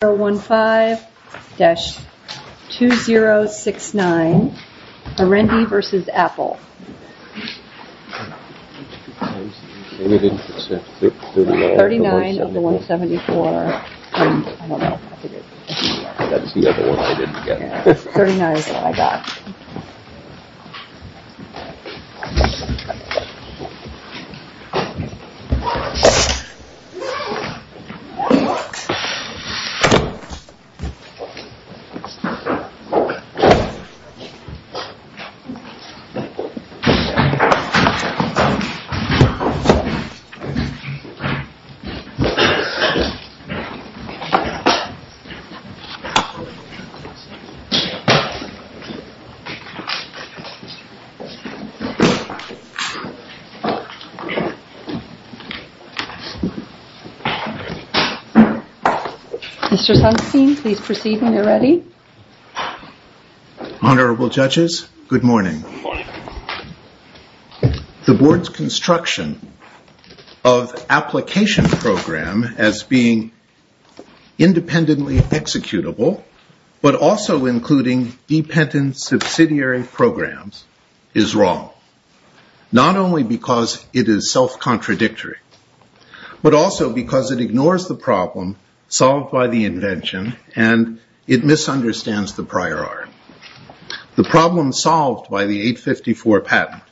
015-2069, Arendi v. Apple, 39-174, 39 is what I got. Mr. Sunstein, please proceed when you're ready. Honorable Judges, good morning. The Board's construction of application program as being independently executable, but also including dependent subsidiary programs, is wrong, not only because it is self-contradictory, but also because it ignores the problem solved by the invention and it misunderstands the prior art. The problem solved by the 854 patent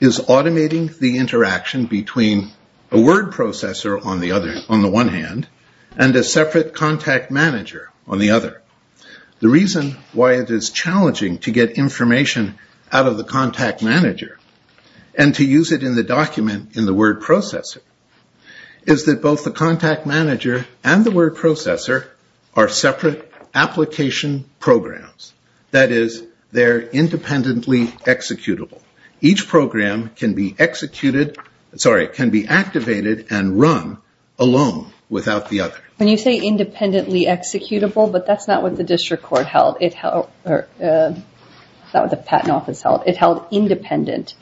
is automating the interaction between a word processor on the one hand, and a separate contact manager on the other. The reason why it is challenging to get information out of the contact manager, and to use it in the document in the word processor, is that both the contact manager and the word processor are separate application programs. That is, they're independently executable. Each program can be activated and run alone, without the other. When you say independently executable, but that's not what the district court held, that's what the patent office held, it held independent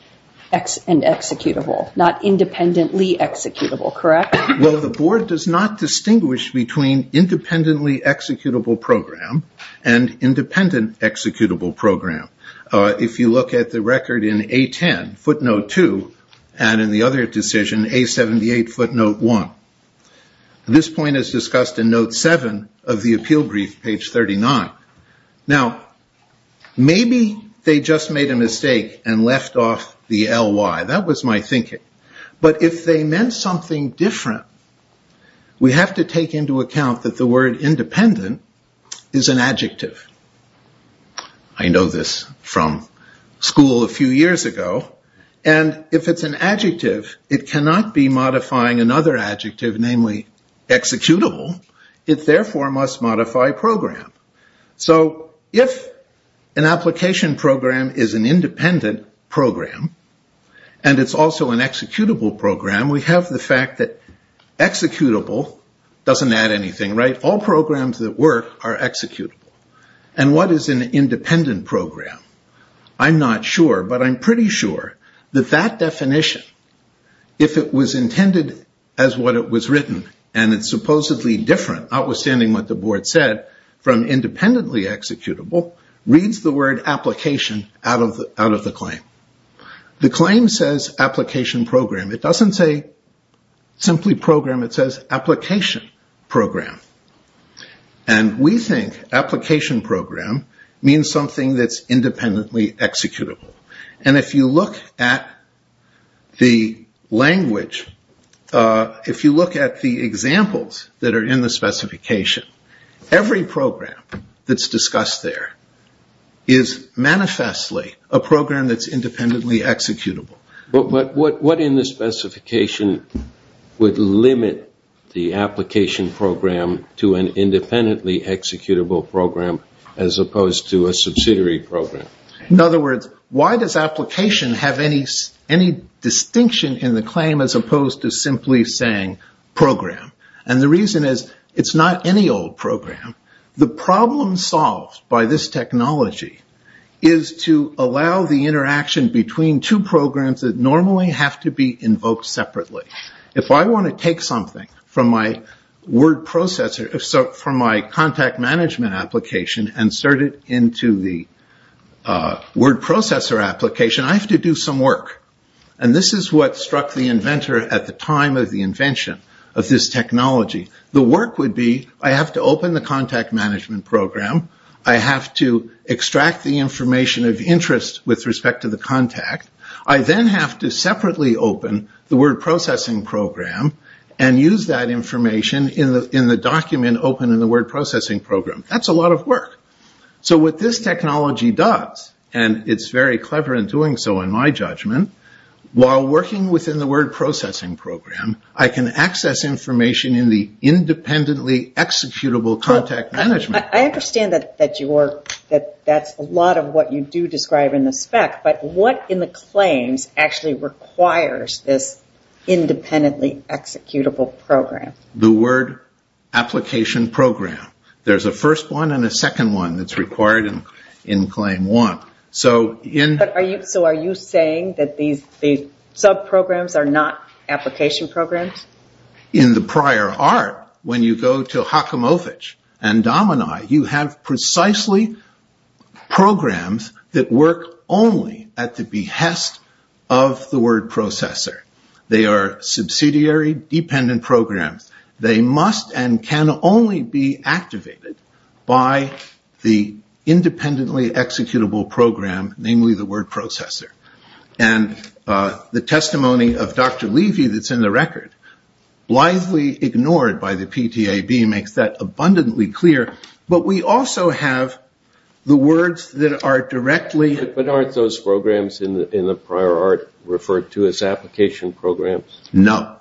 and executable, not independently executable, correct? Well, the Board does not distinguish between independently executable program and independent executable program. If you look at the record in A-10, footnote 2, and in the other decision, A-78, footnote 1, this point is discussed in note 7 of the appeal brief, page 39. Now, maybe they just made a mistake and left off the L-Y, that was my thinking. But if they meant something different, we have to take into account that the word independent is an adjective. I know this from school a few years ago, and if it's an adjective, it cannot be modifying another adjective, namely executable. It therefore must modify program. So if an application program is an independent program, and it's also an executable program, we have the fact that executable doesn't add anything, right? All programs that work are executable. And what is an independent program? I'm not sure, but I'm pretty sure that that definition, if it was intended as what it was written, and it's supposedly different, outstanding what the Board said, from independently executable, reads the word application out of the claim. The claim says application program. It doesn't say simply program. It says application program. And we think application program means something that's independently executable. And if you look at the language, if you look at the examples that are in the specification, every program that's discussed there is manifestly a program that's independently executable. But what in the specification would limit the application program to an independently executable program as opposed to a subsidiary program? In other words, why does application have any distinction in the claim as opposed to simply saying program? And the reason is it's not any old program. The problem solved by this technology is to allow the interaction between two programs that normally have to be invoked separately. If I want to take something from my contact management application and insert it into the word processor application, I have to do some work. And this is what struck the inventor at the time of the invention of this technology. The work would be I have to open the contact management program. I have to extract the information of interest with respect to the contact. I then have to separately open the word processing program and use that information in the document open in the word processing program. That's a lot of work. So what this technology does, and it's very clever in doing so in my judgment, while working within the word processing program, I can access information in the independently executable contact management. I understand that that's a lot of what you do describe in the spec, but what in the claims actually requires this independently executable program? The word application program. There's a first one and a second one that's required in claim one. So are you saying that these sub-programs are not application programs? In the prior art, when you go to Hakamovich and Domini, you have precisely programs that work only at the behest of the word processor. They are subsidiary dependent programs. They must and can only be activated by the independently executable program, namely the word processor. And the testimony of Dr. Levy that's in the record, blithely ignored by the PTAB, makes that abundantly clear. But we also have the words that are directly- But aren't those programs in the prior art referred to as application programs? No.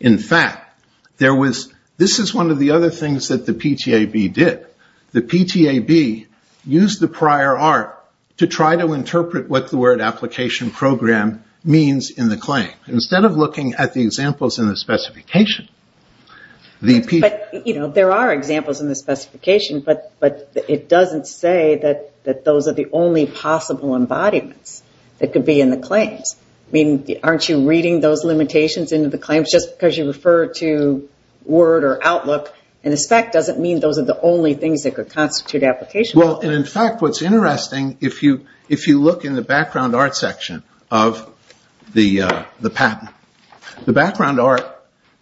In fact, this is one of the other things that the PTAB did. The PTAB used the prior art to try to interpret what the word application program means in the claim. Instead of looking at the examples in the specification, the PTAB- But there are examples in the specification, but it doesn't say that those are the only possible embodiments that could be in the claims. I mean, aren't you reading those limitations into the claims just because you refer to word or outlook? And the spec doesn't mean those are the only things that could constitute application. Well, and in fact, what's interesting, if you look in the background art section of the patent, the background art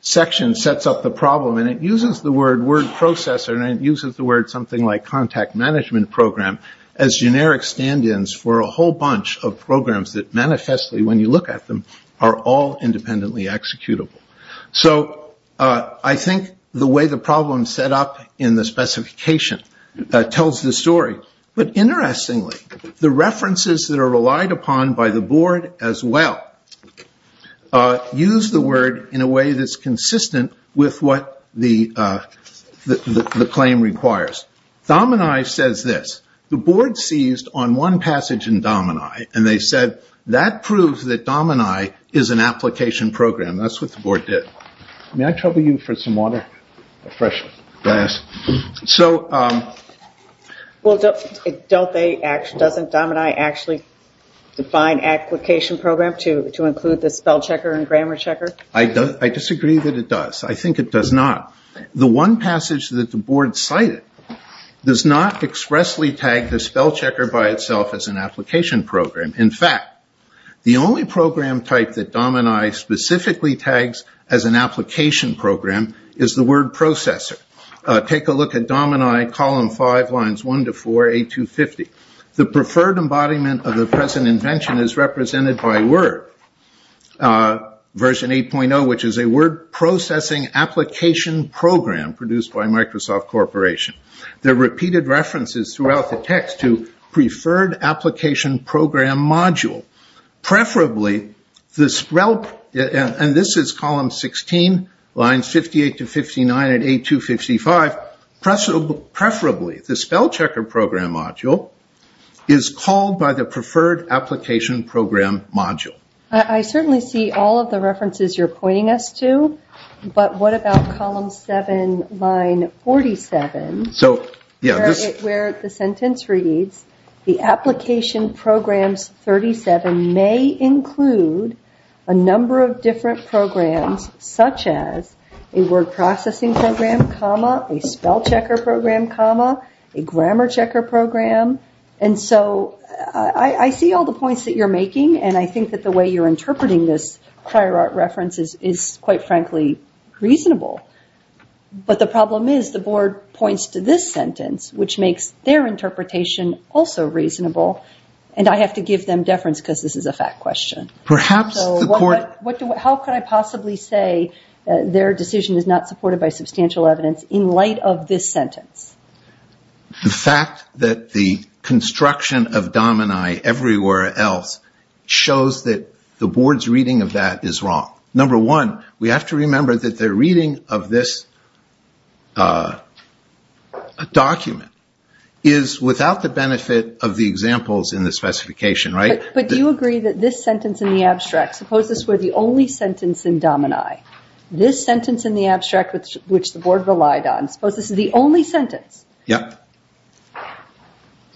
section sets up the problem, and it uses the word word processor, and it uses the word something like contact management program as generic stand-ins for a whole bunch of programs that manifestly, when you look at them, are all independently executable. So I think the way the problem is set up in the specification tells the story. But interestingly, the references that are relied upon by the board as well use the word in a way that's consistent with what the claim requires. Domini says this. The board seized on one passage in Domini, and they said that proves that Domini is an application program. That's what the board did. May I trouble you for some water, a fresh glass? So- Well, doesn't Domini actually define application program to include the spell checker and grammar checker? I disagree that it does. I think it does not. The one passage that the board cited does not expressly tag the spell checker by itself as an application program. In fact, the only program type that Domini specifically tags as an application program is the word processor. Take a look at Domini column five, lines one to four, A250. The preferred embodiment of the present invention is represented by word, version 8.0, which is a word processing application program produced by Microsoft Corporation. There are repeated references throughout the text to preferred application program module. Preferably, the spell, and this is column 16, lines 58 to 59 at A255, preferably the spell checker program module is called by the preferred application program module. I certainly see all of the references you're pointing us to, but what about column seven, line 47, where the sentence reads, the application programs 37 may include a number of different programs, such as a word processing program, comma, a spell checker program, comma, a grammar checker program. And so I see all the points that you're making, and I think that the way you're interpreting this prior art reference is, quite frankly, reasonable. But the problem is the board points to this sentence, which makes their interpretation also reasonable, and I have to give them deference because this is a fact question. So how could I possibly say their decision is not supported by substantial evidence in light of this sentence? The fact that the construction of domini everywhere else shows that the board's reading of that is wrong. Number one, we have to remember that their reading of this document is without the benefit of the examples in the specification, right? But do you agree that this sentence in the abstract, suppose this were the only sentence in domini, this sentence in the abstract which the board relied on, suppose this is the only sentence that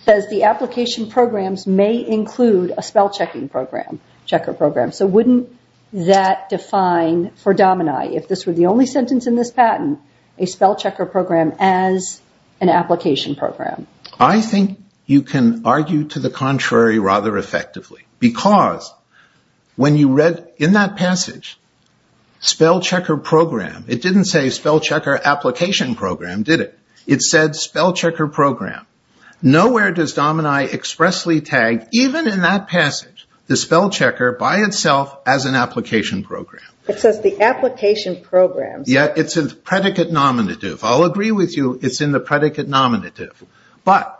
says the application programs may include a spell checking program, checker program. So wouldn't that define for domini, if this were the only sentence in this patent, a spell checker program as an application program? I think you can argue to the contrary rather effectively because when you read in that passage spell checker program, it didn't say spell checker application program, did it? It said spell checker program. Nowhere does domini expressly tag, even in that passage, the spell checker by itself as an application program. It says the application program. Yeah, it's a predicate nominative. I'll agree with you it's in the predicate nominative. But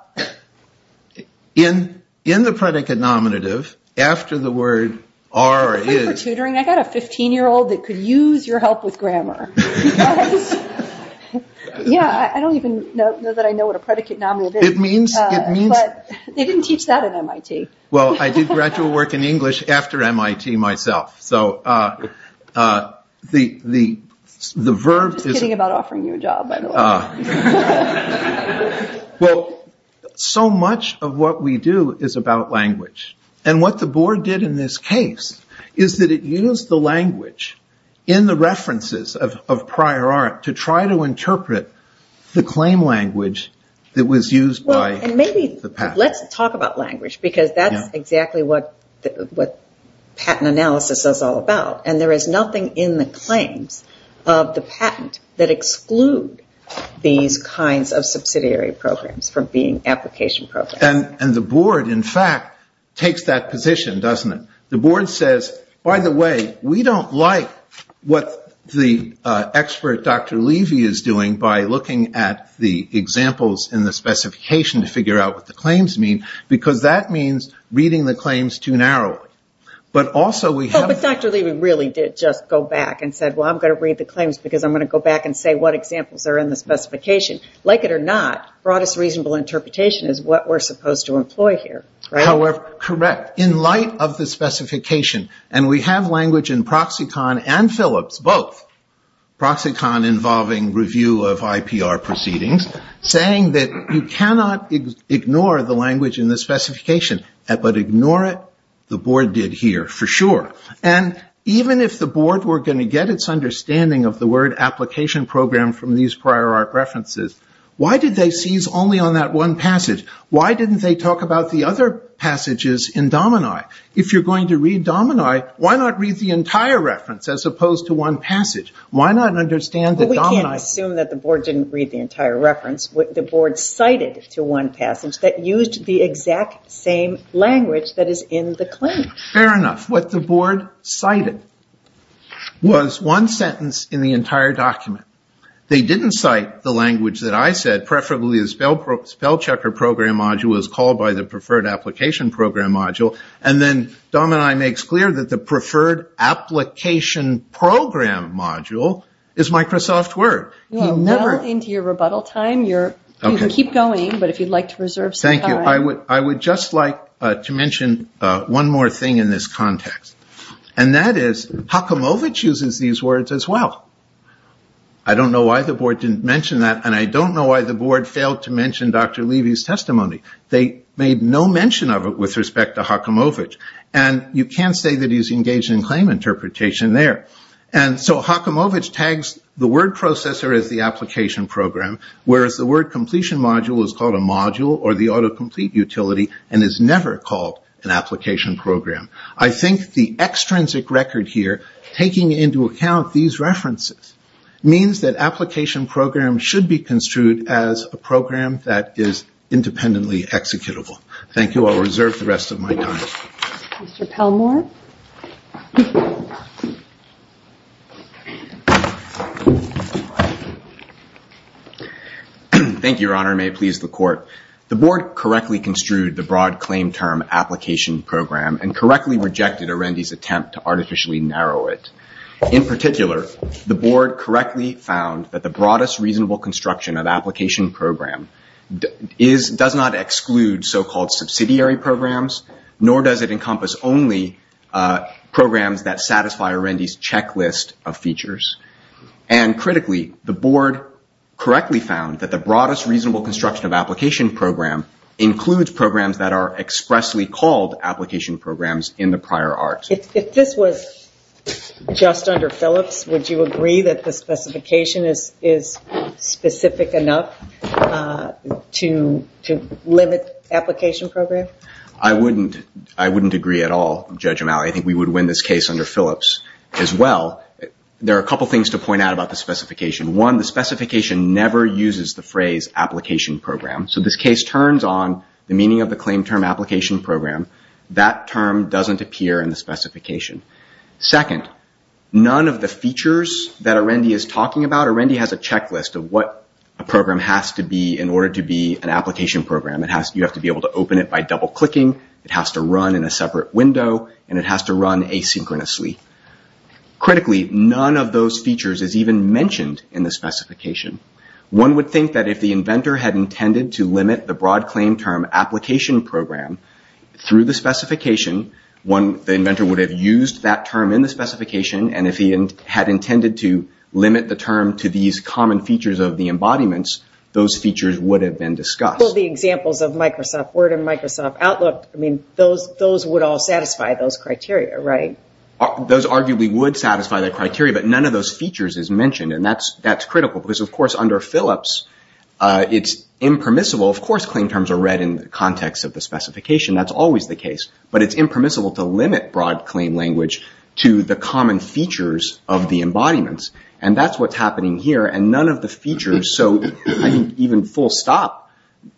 in the predicate nominative after the word are or is. I got a 15-year-old that could use your help with grammar. Yeah, I don't even know that I know what a predicate nominative is. It means. But they didn't teach that at MIT. Well, I did graduate work in English after MIT myself. So the verb is. I'm just kidding about offering you a job, by the way. Well, so much of what we do is about language. And what the board did in this case is that it used the language in the references of prior art to try to interpret the claim language that was used by the patent. Well, and maybe let's talk about language because that's exactly what patent analysis is all about. And there is nothing in the claims of the patent that exclude these kinds of subsidiary programs from being application programs. And the board, in fact, takes that position, doesn't it? The board says, by the way, we don't like what the expert Dr. Levy is doing by looking at the examples in the specification to figure out what the claims mean because that means reading the claims too narrowly. But Dr. Levy really did just go back and said, well, I'm going to read the claims because I'm going to go back and say what examples are in the specification. Like it or not, broadest reasonable interpretation is what we're supposed to employ here, right? Correct. In light of the specification, and we have language in Proxicon and Phillips, both, Proxicon involving review of IPR proceedings, saying that you cannot ignore the language in the specification, but ignore it, the claim, for sure. And even if the board were going to get its understanding of the word application program from these prior art references, why did they seize only on that one passage? Why didn't they talk about the other passages in Domini? If you're going to read Domini, why not read the entire reference as Why not understand that Domini was the only one? Well, we can't assume that the board didn't read the entire reference. The board cited to one passage that used the exact same language that is in the claim. Fair enough. What the board cited was one sentence in the entire document. They didn't cite the language that I said, preferably the spell checker program module as called by the preferred application program module, and then Domini makes clear that the preferred application program module is Microsoft Word. You're well into your rebuttal time. You can keep going, but if you'd like to reserve some time. I would just like to mention one more thing in this context. And that is, Haakamovitch uses these words as well. I don't know why the board didn't mention that, and I don't know why the board failed to mention Dr. Levy's testimony. They made no mention of it with respect to Haakamovitch, and you can't say that he's engaged in claim interpretation there. And so Haakamovitch tags the word processor as the application program, whereas the word completion module is called a module or the autocomplete utility and is never called an application program. I think the extrinsic record here, taking into account these references, means that application programs should be construed as a program that is independently executable. Thank you. I'll reserve the rest of my time. Mr. Pelmore. Thank you, Your Honor. May it please the Court. The board correctly construed the broad claim term application program and correctly rejected Arendi's attempt to artificially narrow it. In particular, the board correctly found that the broadest reasonable construction of application program does not exclude so-called subsidiary programs, nor does it encompass only programs that satisfy Arendi's checklist of features. And critically, the board correctly found that the broadest reasonable construction of application program includes programs that are expressly called application programs in the prior art. If this was just under Phillips, would you agree that the specification is specific enough to limit application program? I wouldn't agree at all, Judge O'Malley. I think we would win this case under Phillips as well. There are a couple things to point out about the specification. One, the specification never uses the phrase application program. So this case turns on the meaning of the claim term application program. That term doesn't appear in the specification. Second, none of the features that Arendi is talking about, Arendi has a checklist of what a program has to be in order to be an application program. You have to be able to open it by double-clicking, it has to run in a separate window, and it has to run asynchronously. Critically, none of those features is even mentioned in the specification. One would think that if the inventor had intended to limit the broad claim term application program through the specification, the inventor would have used that term in the specification, and if he had intended to limit the term to these common features of the embodiments, those features would have been discussed. A couple of the examples of Microsoft Word and Microsoft Outlook, those would all satisfy those criteria, right? Those arguably would satisfy the criteria, but none of those features is mentioned, and that's critical. Because, of course, under Phillips, it's impermissible. Of course, claim terms are read in the context of the specification. That's always the case. But it's impermissible to limit broad claim language to the common features of the embodiments, and that's what's happening here. And none of the features, so I think even full stop,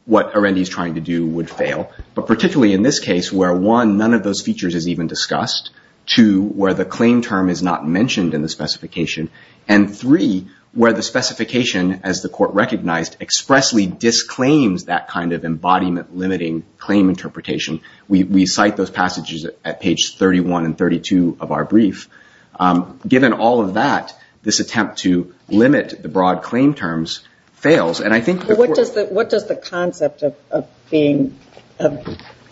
what Arendi is trying to do would fail, but particularly in this case, where one, none of those features is even discussed, two, where the claim term is not mentioned in the specification, and three, where the specification, as the court recognized, expressly disclaims that kind of embodiment-limiting claim interpretation. We cite those passages at page 31 and 32 of our brief. Given all of that, this attempt to limit the broad claim terms fails, and I think the court- What does the concept of being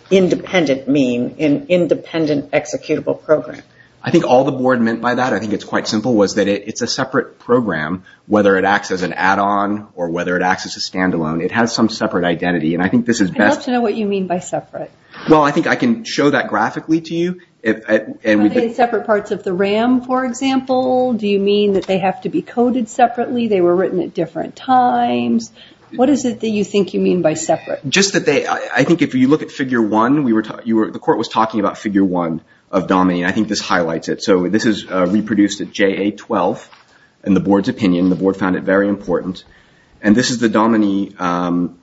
independent mean, an independent executable program? I think all the board meant by that, I think it's quite simple, was that it's a separate program, whether it acts as an add-on or whether it acts as a standalone. It has some separate identity, and I think this is best- I'd love to know what you mean by separate. Well, I think I can show that graphically to you. Are they separate parts of the RAM, for example? Do you mean that they have to be coded separately? They were written at different times. What is it that you think you mean by separate? Just that they- I think if you look at Figure 1, the court was talking about Figure 1 of DOMINI, and I think this highlights it. So this is reproduced at JA-12 in the board's opinion. The board found it very important. And this is the DOMINI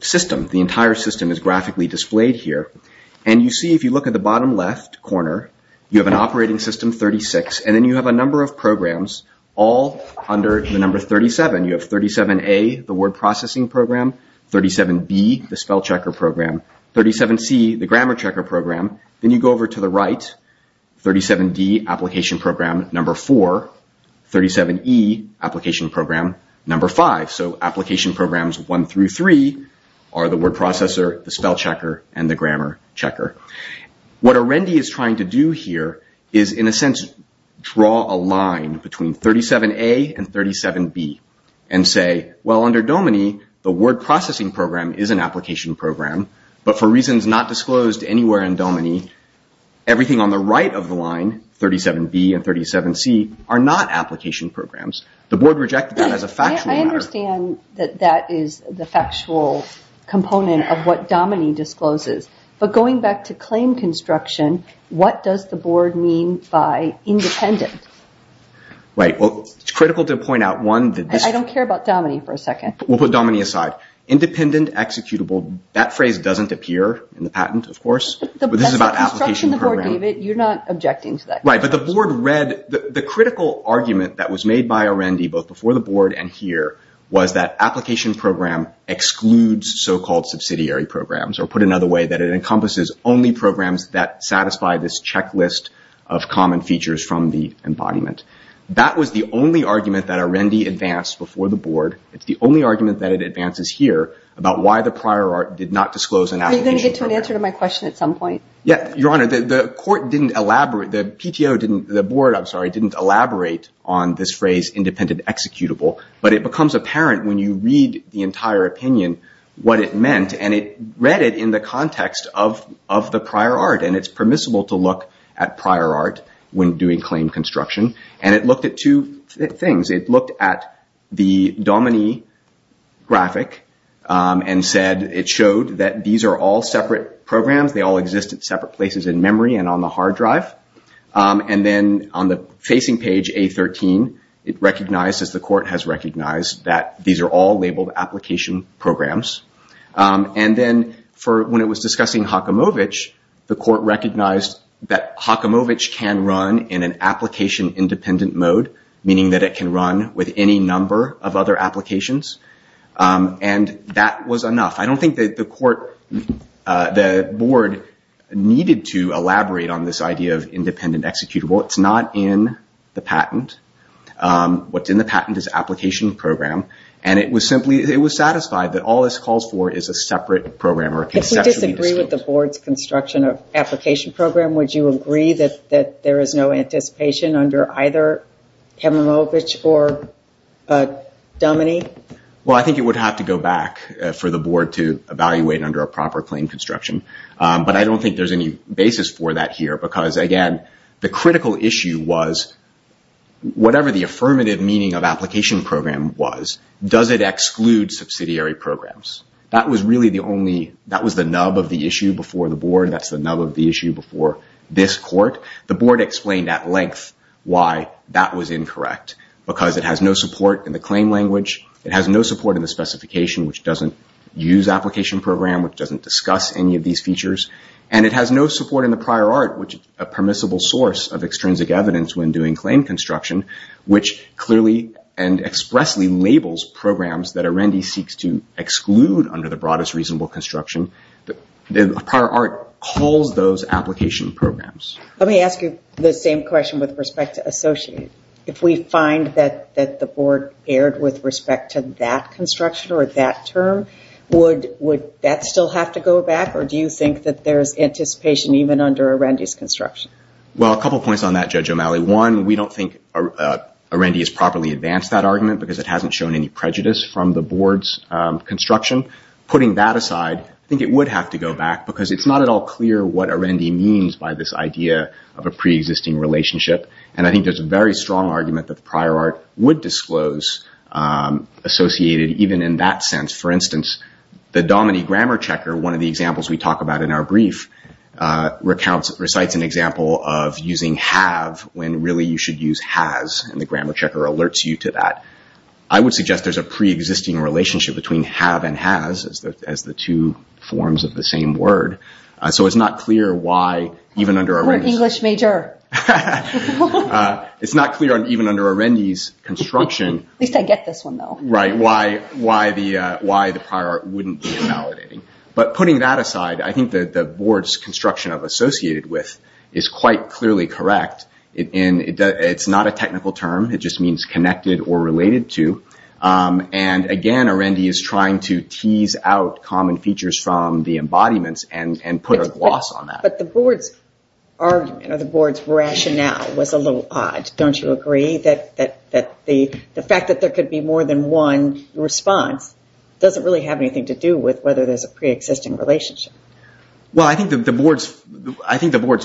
system. The entire system is graphically displayed here. And you see, if you look at the bottom left corner, you have an operating system, 36, and then you have a number of programs, all under the number 37. You have 37A, the word processing program, 37B, the spell checker program, 37C, the grammar checker program. Then you go over to the right, 37D, application program, number 4, 37E, application program, number 5. So application programs 1 through 3 are the word processor, the spell checker, and the grammar checker. What Arendi is trying to do here is, in a sense, draw a line between 37A and 37B, and say, well, under DOMINI, the word processing program is an application program, but for reasons not disclosed anywhere in DOMINI, everything on the right of the line, 37B and 37C, are not application programs. The board rejected that as a factual matter. I understand that that is the factual component of what DOMINI discloses, but going back to claim construction, what does the board mean by independent? Right. Well, it's critical to point out, one, that this... I don't care about DOMINI for a second. We'll put DOMINI aside. Independent, executable, that phrase doesn't appear in the patent, of course, but this is about application program. You're not objecting to that. Right, but the board read... The critical argument that was made by Arendi, both before the board and here, was that application program excludes so-called subsidiary programs, or put another way, that it encompasses only programs that satisfy this checklist of common features from the embodiment. That was the only argument that Arendi advanced before the board. It's the only argument that it advances here about why the prior art did not disclose an application program. Are you going to get to an answer to my question at some point? Yeah, Your Honor, the court didn't elaborate... The PTO didn't... The board, I'm sorry, I didn't elaborate on this phrase, independent, executable, but it becomes apparent when you read the entire opinion, what it meant, and it read it in the context of the prior art, and it's permissible to look at prior art when doing claim construction, and it looked at two things. It looked at the DOMINI graphic and said... It showed that these are all separate programs. They all exist at separate places in memory and on the hard drive, and then on the facing page, A13, it recognized, as the court has recognized, that these are all labeled application programs, and then when it was discussing Haakamovich, the court recognized that Haakamovich can run in an application-independent mode, meaning that it can run with any number of other applications, and that was enough. I don't think that the court... The board needed to elaborate on this idea of independent executable. It's not in the patent. What's in the patent is application program, and it was simply... It was satisfied that all this calls for is a separate program or a conceptually distinct... If we disagree with the board's construction of application program, would you agree that there is no anticipation under either Haakamovich or DOMINI? Well, I think it would have to go back for the board to evaluate under a proper claim construction, but I don't think there's any basis for that here because, again, the critical issue was whatever the affirmative meaning of application program was, does it exclude subsidiary programs? That was really the only... That was the nub of the issue before the board. That's the nub of the issue before this court. The board explained at length why that was incorrect because it has no support in the claim language. It has no support in the specification, which doesn't use application program, which doesn't discuss any of these features, and it has no support in the prior art, which is a permissible source of extrinsic evidence when doing claim construction, which clearly and expressly labels programs that Arendi seeks to exclude under the broadest reasonable construction. The prior art calls those application programs. Let me ask you the same question with respect to associate. If we find that the board erred with respect to that construction or that term, would that still have to go back, or do you think that there's anticipation even under Arendi's construction? Well, a couple points on that, Judge O'Malley. One, we don't think Arendi has properly advanced that argument because it hasn't shown any prejudice from the board's construction. Putting that aside, I think it would have to go back because it's not at all clear what Arendi means by this idea of a preexisting relationship, and I think there's a very strong argument that the prior art would disclose associated even in that sense. For instance, the DOMINI grammar checker, one of the examples we talk about in our brief, recites an example of using have when really you should use has, and the grammar checker alerts you to that. I would suggest there's a preexisting relationship between have and has as the two forms of the same word, so it's not clear why even under Arendi's... You're an English major. It's not clear even under Arendi's construction... At least I get this one, though. Right, why the prior art wouldn't be invalidating, but putting that aside, I think the board's construction of associated with is quite clearly correct. It's not a technical term. It just means connected or related to, and again, Arendi is trying to tease out common features from the embodiments and put a gloss on that. But the board's argument or the board's rationale was a little odd. Don't you agree that the fact that there could be more than one response doesn't really have anything to do with whether there's a preexisting relationship? Well, I think the board's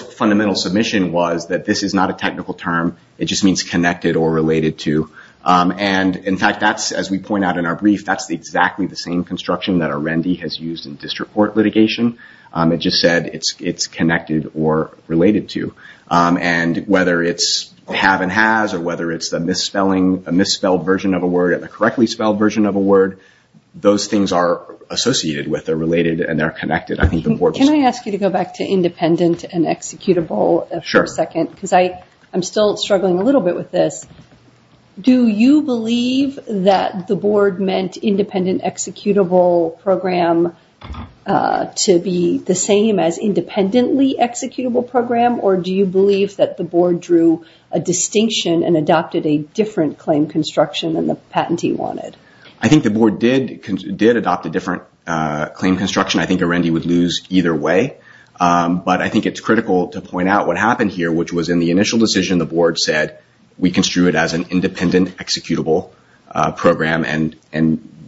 fundamental submission was that this is not a technical term. It just means connected or related to, and in fact, as we point out in our brief, that's exactly the same construction that Arendi has used in district court litigation. It just said it's connected or related to, and whether it's have and has or whether it's a misspelled version of a word and a correctly spelled version of a word, those things are associated with, they're related, and they're connected. Can I ask you to go back to independent and executable for a second? Sure. Because I'm still struggling a little bit with this. Do you believe that the board meant independent executable program to be the same as independently executable program, or do you believe that the board drew a distinction and adopted a different claim construction than the patentee wanted? I think the board did adopt a different claim construction. I think Arendi would lose either way, but I think it's critical to point out what happened here, which was in the initial decision, the board said we construed it as an independent executable program and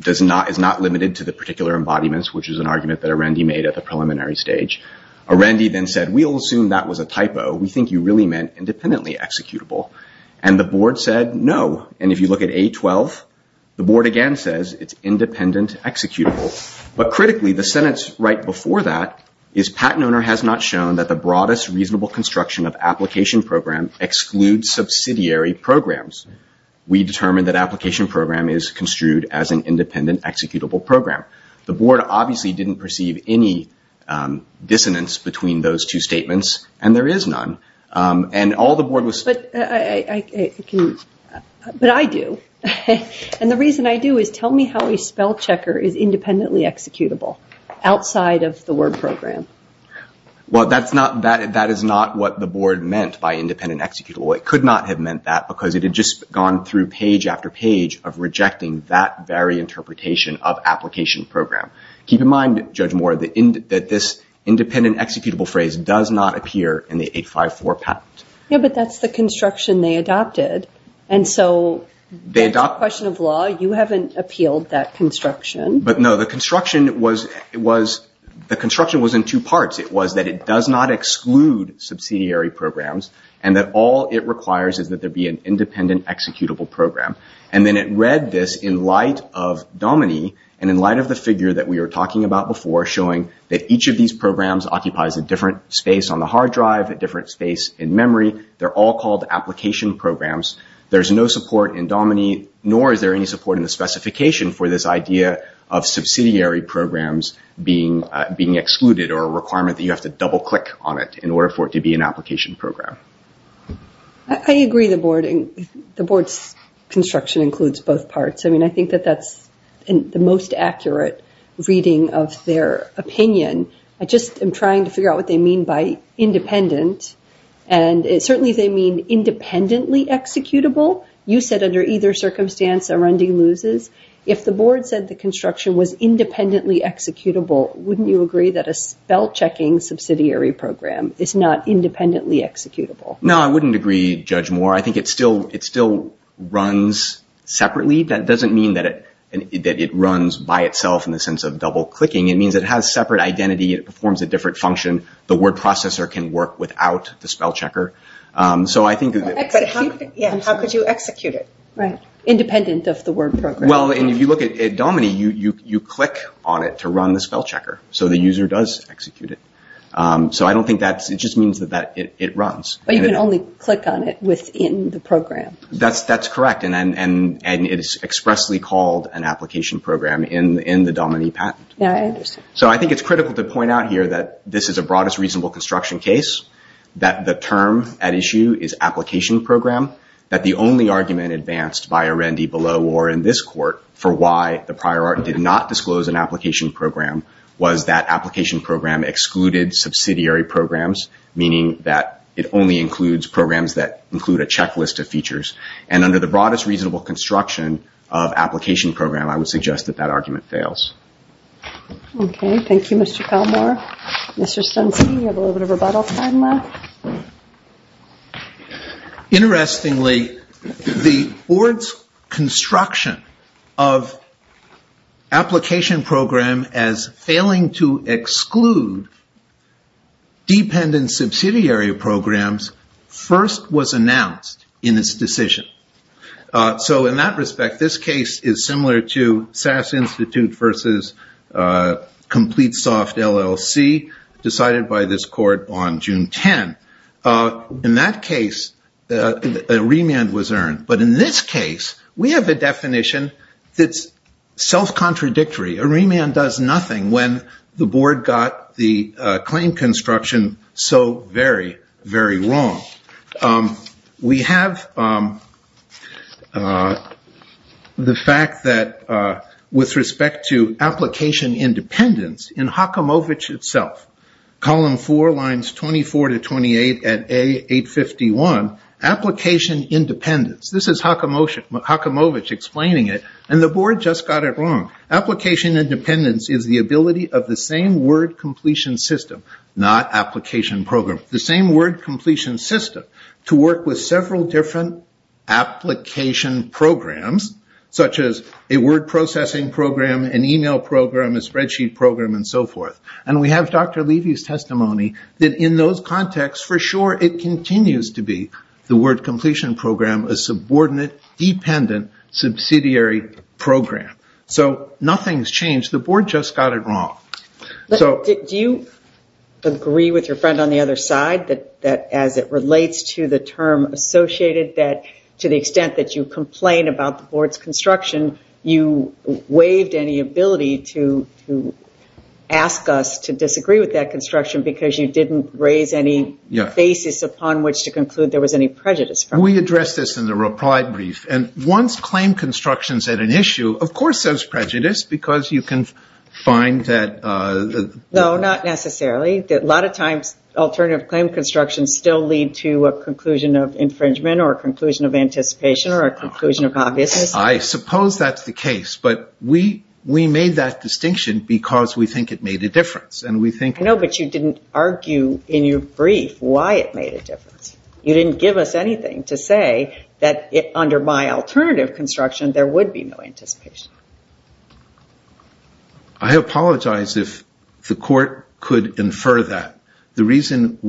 is not limited to the particular embodiments, which is an argument that Arendi made at the preliminary stage. Arendi then said, we'll assume that was a typo. We think you really meant independently executable. And the board said no. And if you look at A12, the board again says it's independent executable. But critically, the sentence right before that is patent owner has not shown that the broadest reasonable construction of application program excludes subsidiary programs. We determined that application program is construed as an independent executable program. The board obviously didn't perceive any dissonance between those two statements, and there is none. But I do. And the reason I do is tell me how a spell checker is independently executable outside of the word program. Well, that is not what the board meant by independent executable. It could not have meant that because it had just gone through page after page of rejecting that very interpretation of application program. Keep in mind, Judge Moore, that this independent executable phrase does not appear in the 854 patent. Yeah, but that's the construction they adopted. And so that's a question of law. You haven't appealed that construction. But no, the construction was in two parts. It was that it does not exclude subsidiary programs and that all it requires is that there be an independent executable program. And then it read this in light of Dominy and in light of the figure that we were talking about before showing that each of these programs occupies a different space on the hard drive, a different space in memory. They're all called application programs. There's no support in Dominy, nor is there any support in the specification for this idea of subsidiary programs being excluded or a requirement that you have to double-click on it in order for it to be an application program. I agree the board's construction includes both parts. I mean, I think that that's the most accurate reading of their opinion. I just am trying to figure out what they mean by independent. And certainly they mean independently executable. You said under either circumstance, Arundi loses. If the board said the construction was independently executable, wouldn't you agree that a spell-checking subsidiary program is not independently executable? No, I wouldn't agree, Judge Moore. I think it still runs separately. That doesn't mean that it runs by itself in the sense of double-clicking. It means it has separate identity. It performs a different function. The word processor can work without the spell-checker. But how could you execute it? Independent of the word program. Well, if you look at Dominy, you click on it to run the spell-checker. So the user does execute it. So I don't think that's... It just means that it runs. But you can only click on it within the program. That's correct. And it is expressly called an application program in the Dominy patent. So I think it's critical to point out here that this is a broadest reasonable construction case, that the term at issue is application program, that the only argument advanced by Arundi below or in this court for why the prior art did not disclose an application program was that application program excluded subsidiary programs, meaning that it only includes programs that include a checklist of features. And under the broadest reasonable construction of application program, I would suggest that that argument fails. Okay. Thank you, Mr. Kalmar. Mr. Stensky, you have a little bit of rebuttal time left. Interestingly, the board's construction of application program as failing to exclude dependent subsidiary programs first was announced in its decision. So in that respect, this case is similar to SAS Institute versus Complete Soft LLC decided by this court on June 10. In that case, a remand was earned. But in this case, we have a definition that's self-contradictory. A remand does nothing when the board got the claim construction so very, very wrong. We have the fact that with respect to application independence in Hakamovich itself, column 4, lines 24 to 28 at A851, application independence. This is Hakamovich explaining it. And the board just got it wrong. Application independence is the ability of the same word completion system, not application program. The same word completion system to work with several different application programs such as a word processing program, an email program, a spreadsheet program, and so forth. And we have Dr. Levy's testimony that in those contexts, for sure, it continues to be the word completion program a subordinate dependent subsidiary program. So nothing's changed. The board just got it wrong. Do you agree with your friend on the other side that as it relates to the term associated that to the extent that you complain about the board's construction, you waived any ability to ask us to disagree with that construction because you didn't raise any basis upon which to conclude there was any prejudice. We addressed this in the reply brief. And once claim construction's at an issue, of course there's prejudice because you can find that... No, not necessarily. A lot of times alternative claim construction still lead to a conclusion of infringement or a conclusion of anticipation or a conclusion of obviousness. I suppose that's the case. But we made that distinction because we think it made a difference. I know, but you didn't argue in your brief why it made a difference. You didn't give us anything to say that under my alternative construction there would be no anticipation. I apologize if the court could infer that. The reason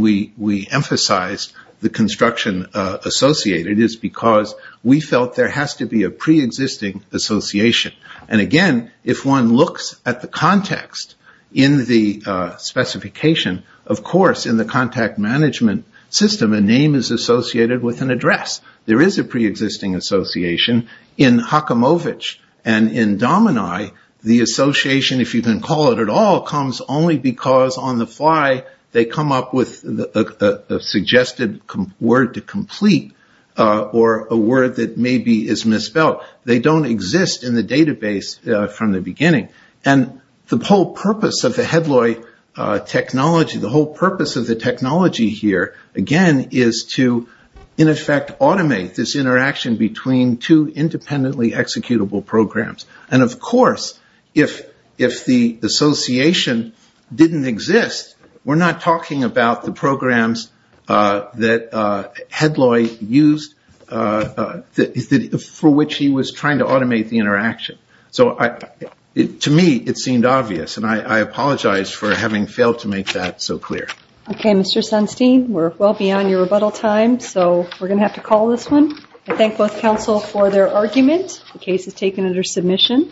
we emphasize the construction associated is because we felt there has to be a pre-existing association. And again, if one looks at the context in the specification, of course in the contact management system a name is associated with an address. There is a pre-existing association. In Haakamovich and in Domini, the association, if you can call it at all, comes only because on the fly they come up with a suggested word to complete or a word that maybe is misspelled. They don't exist in the database from the beginning. And the whole purpose of the Hedloy technology, the whole purpose of the technology here, again, is to in effect automate this interaction between two independently executable programs. And of course, if the association didn't exist, we're not talking about the programs that Hedloy used for which he was trying to automate the interaction. So to me it seemed obvious, and I apologize for having failed to make that so clear. Okay, Mr. Sunstein, we're well beyond your rebuttal time, so we're going to have to call this one. I thank both counsel for their argument. The case is taken under submission.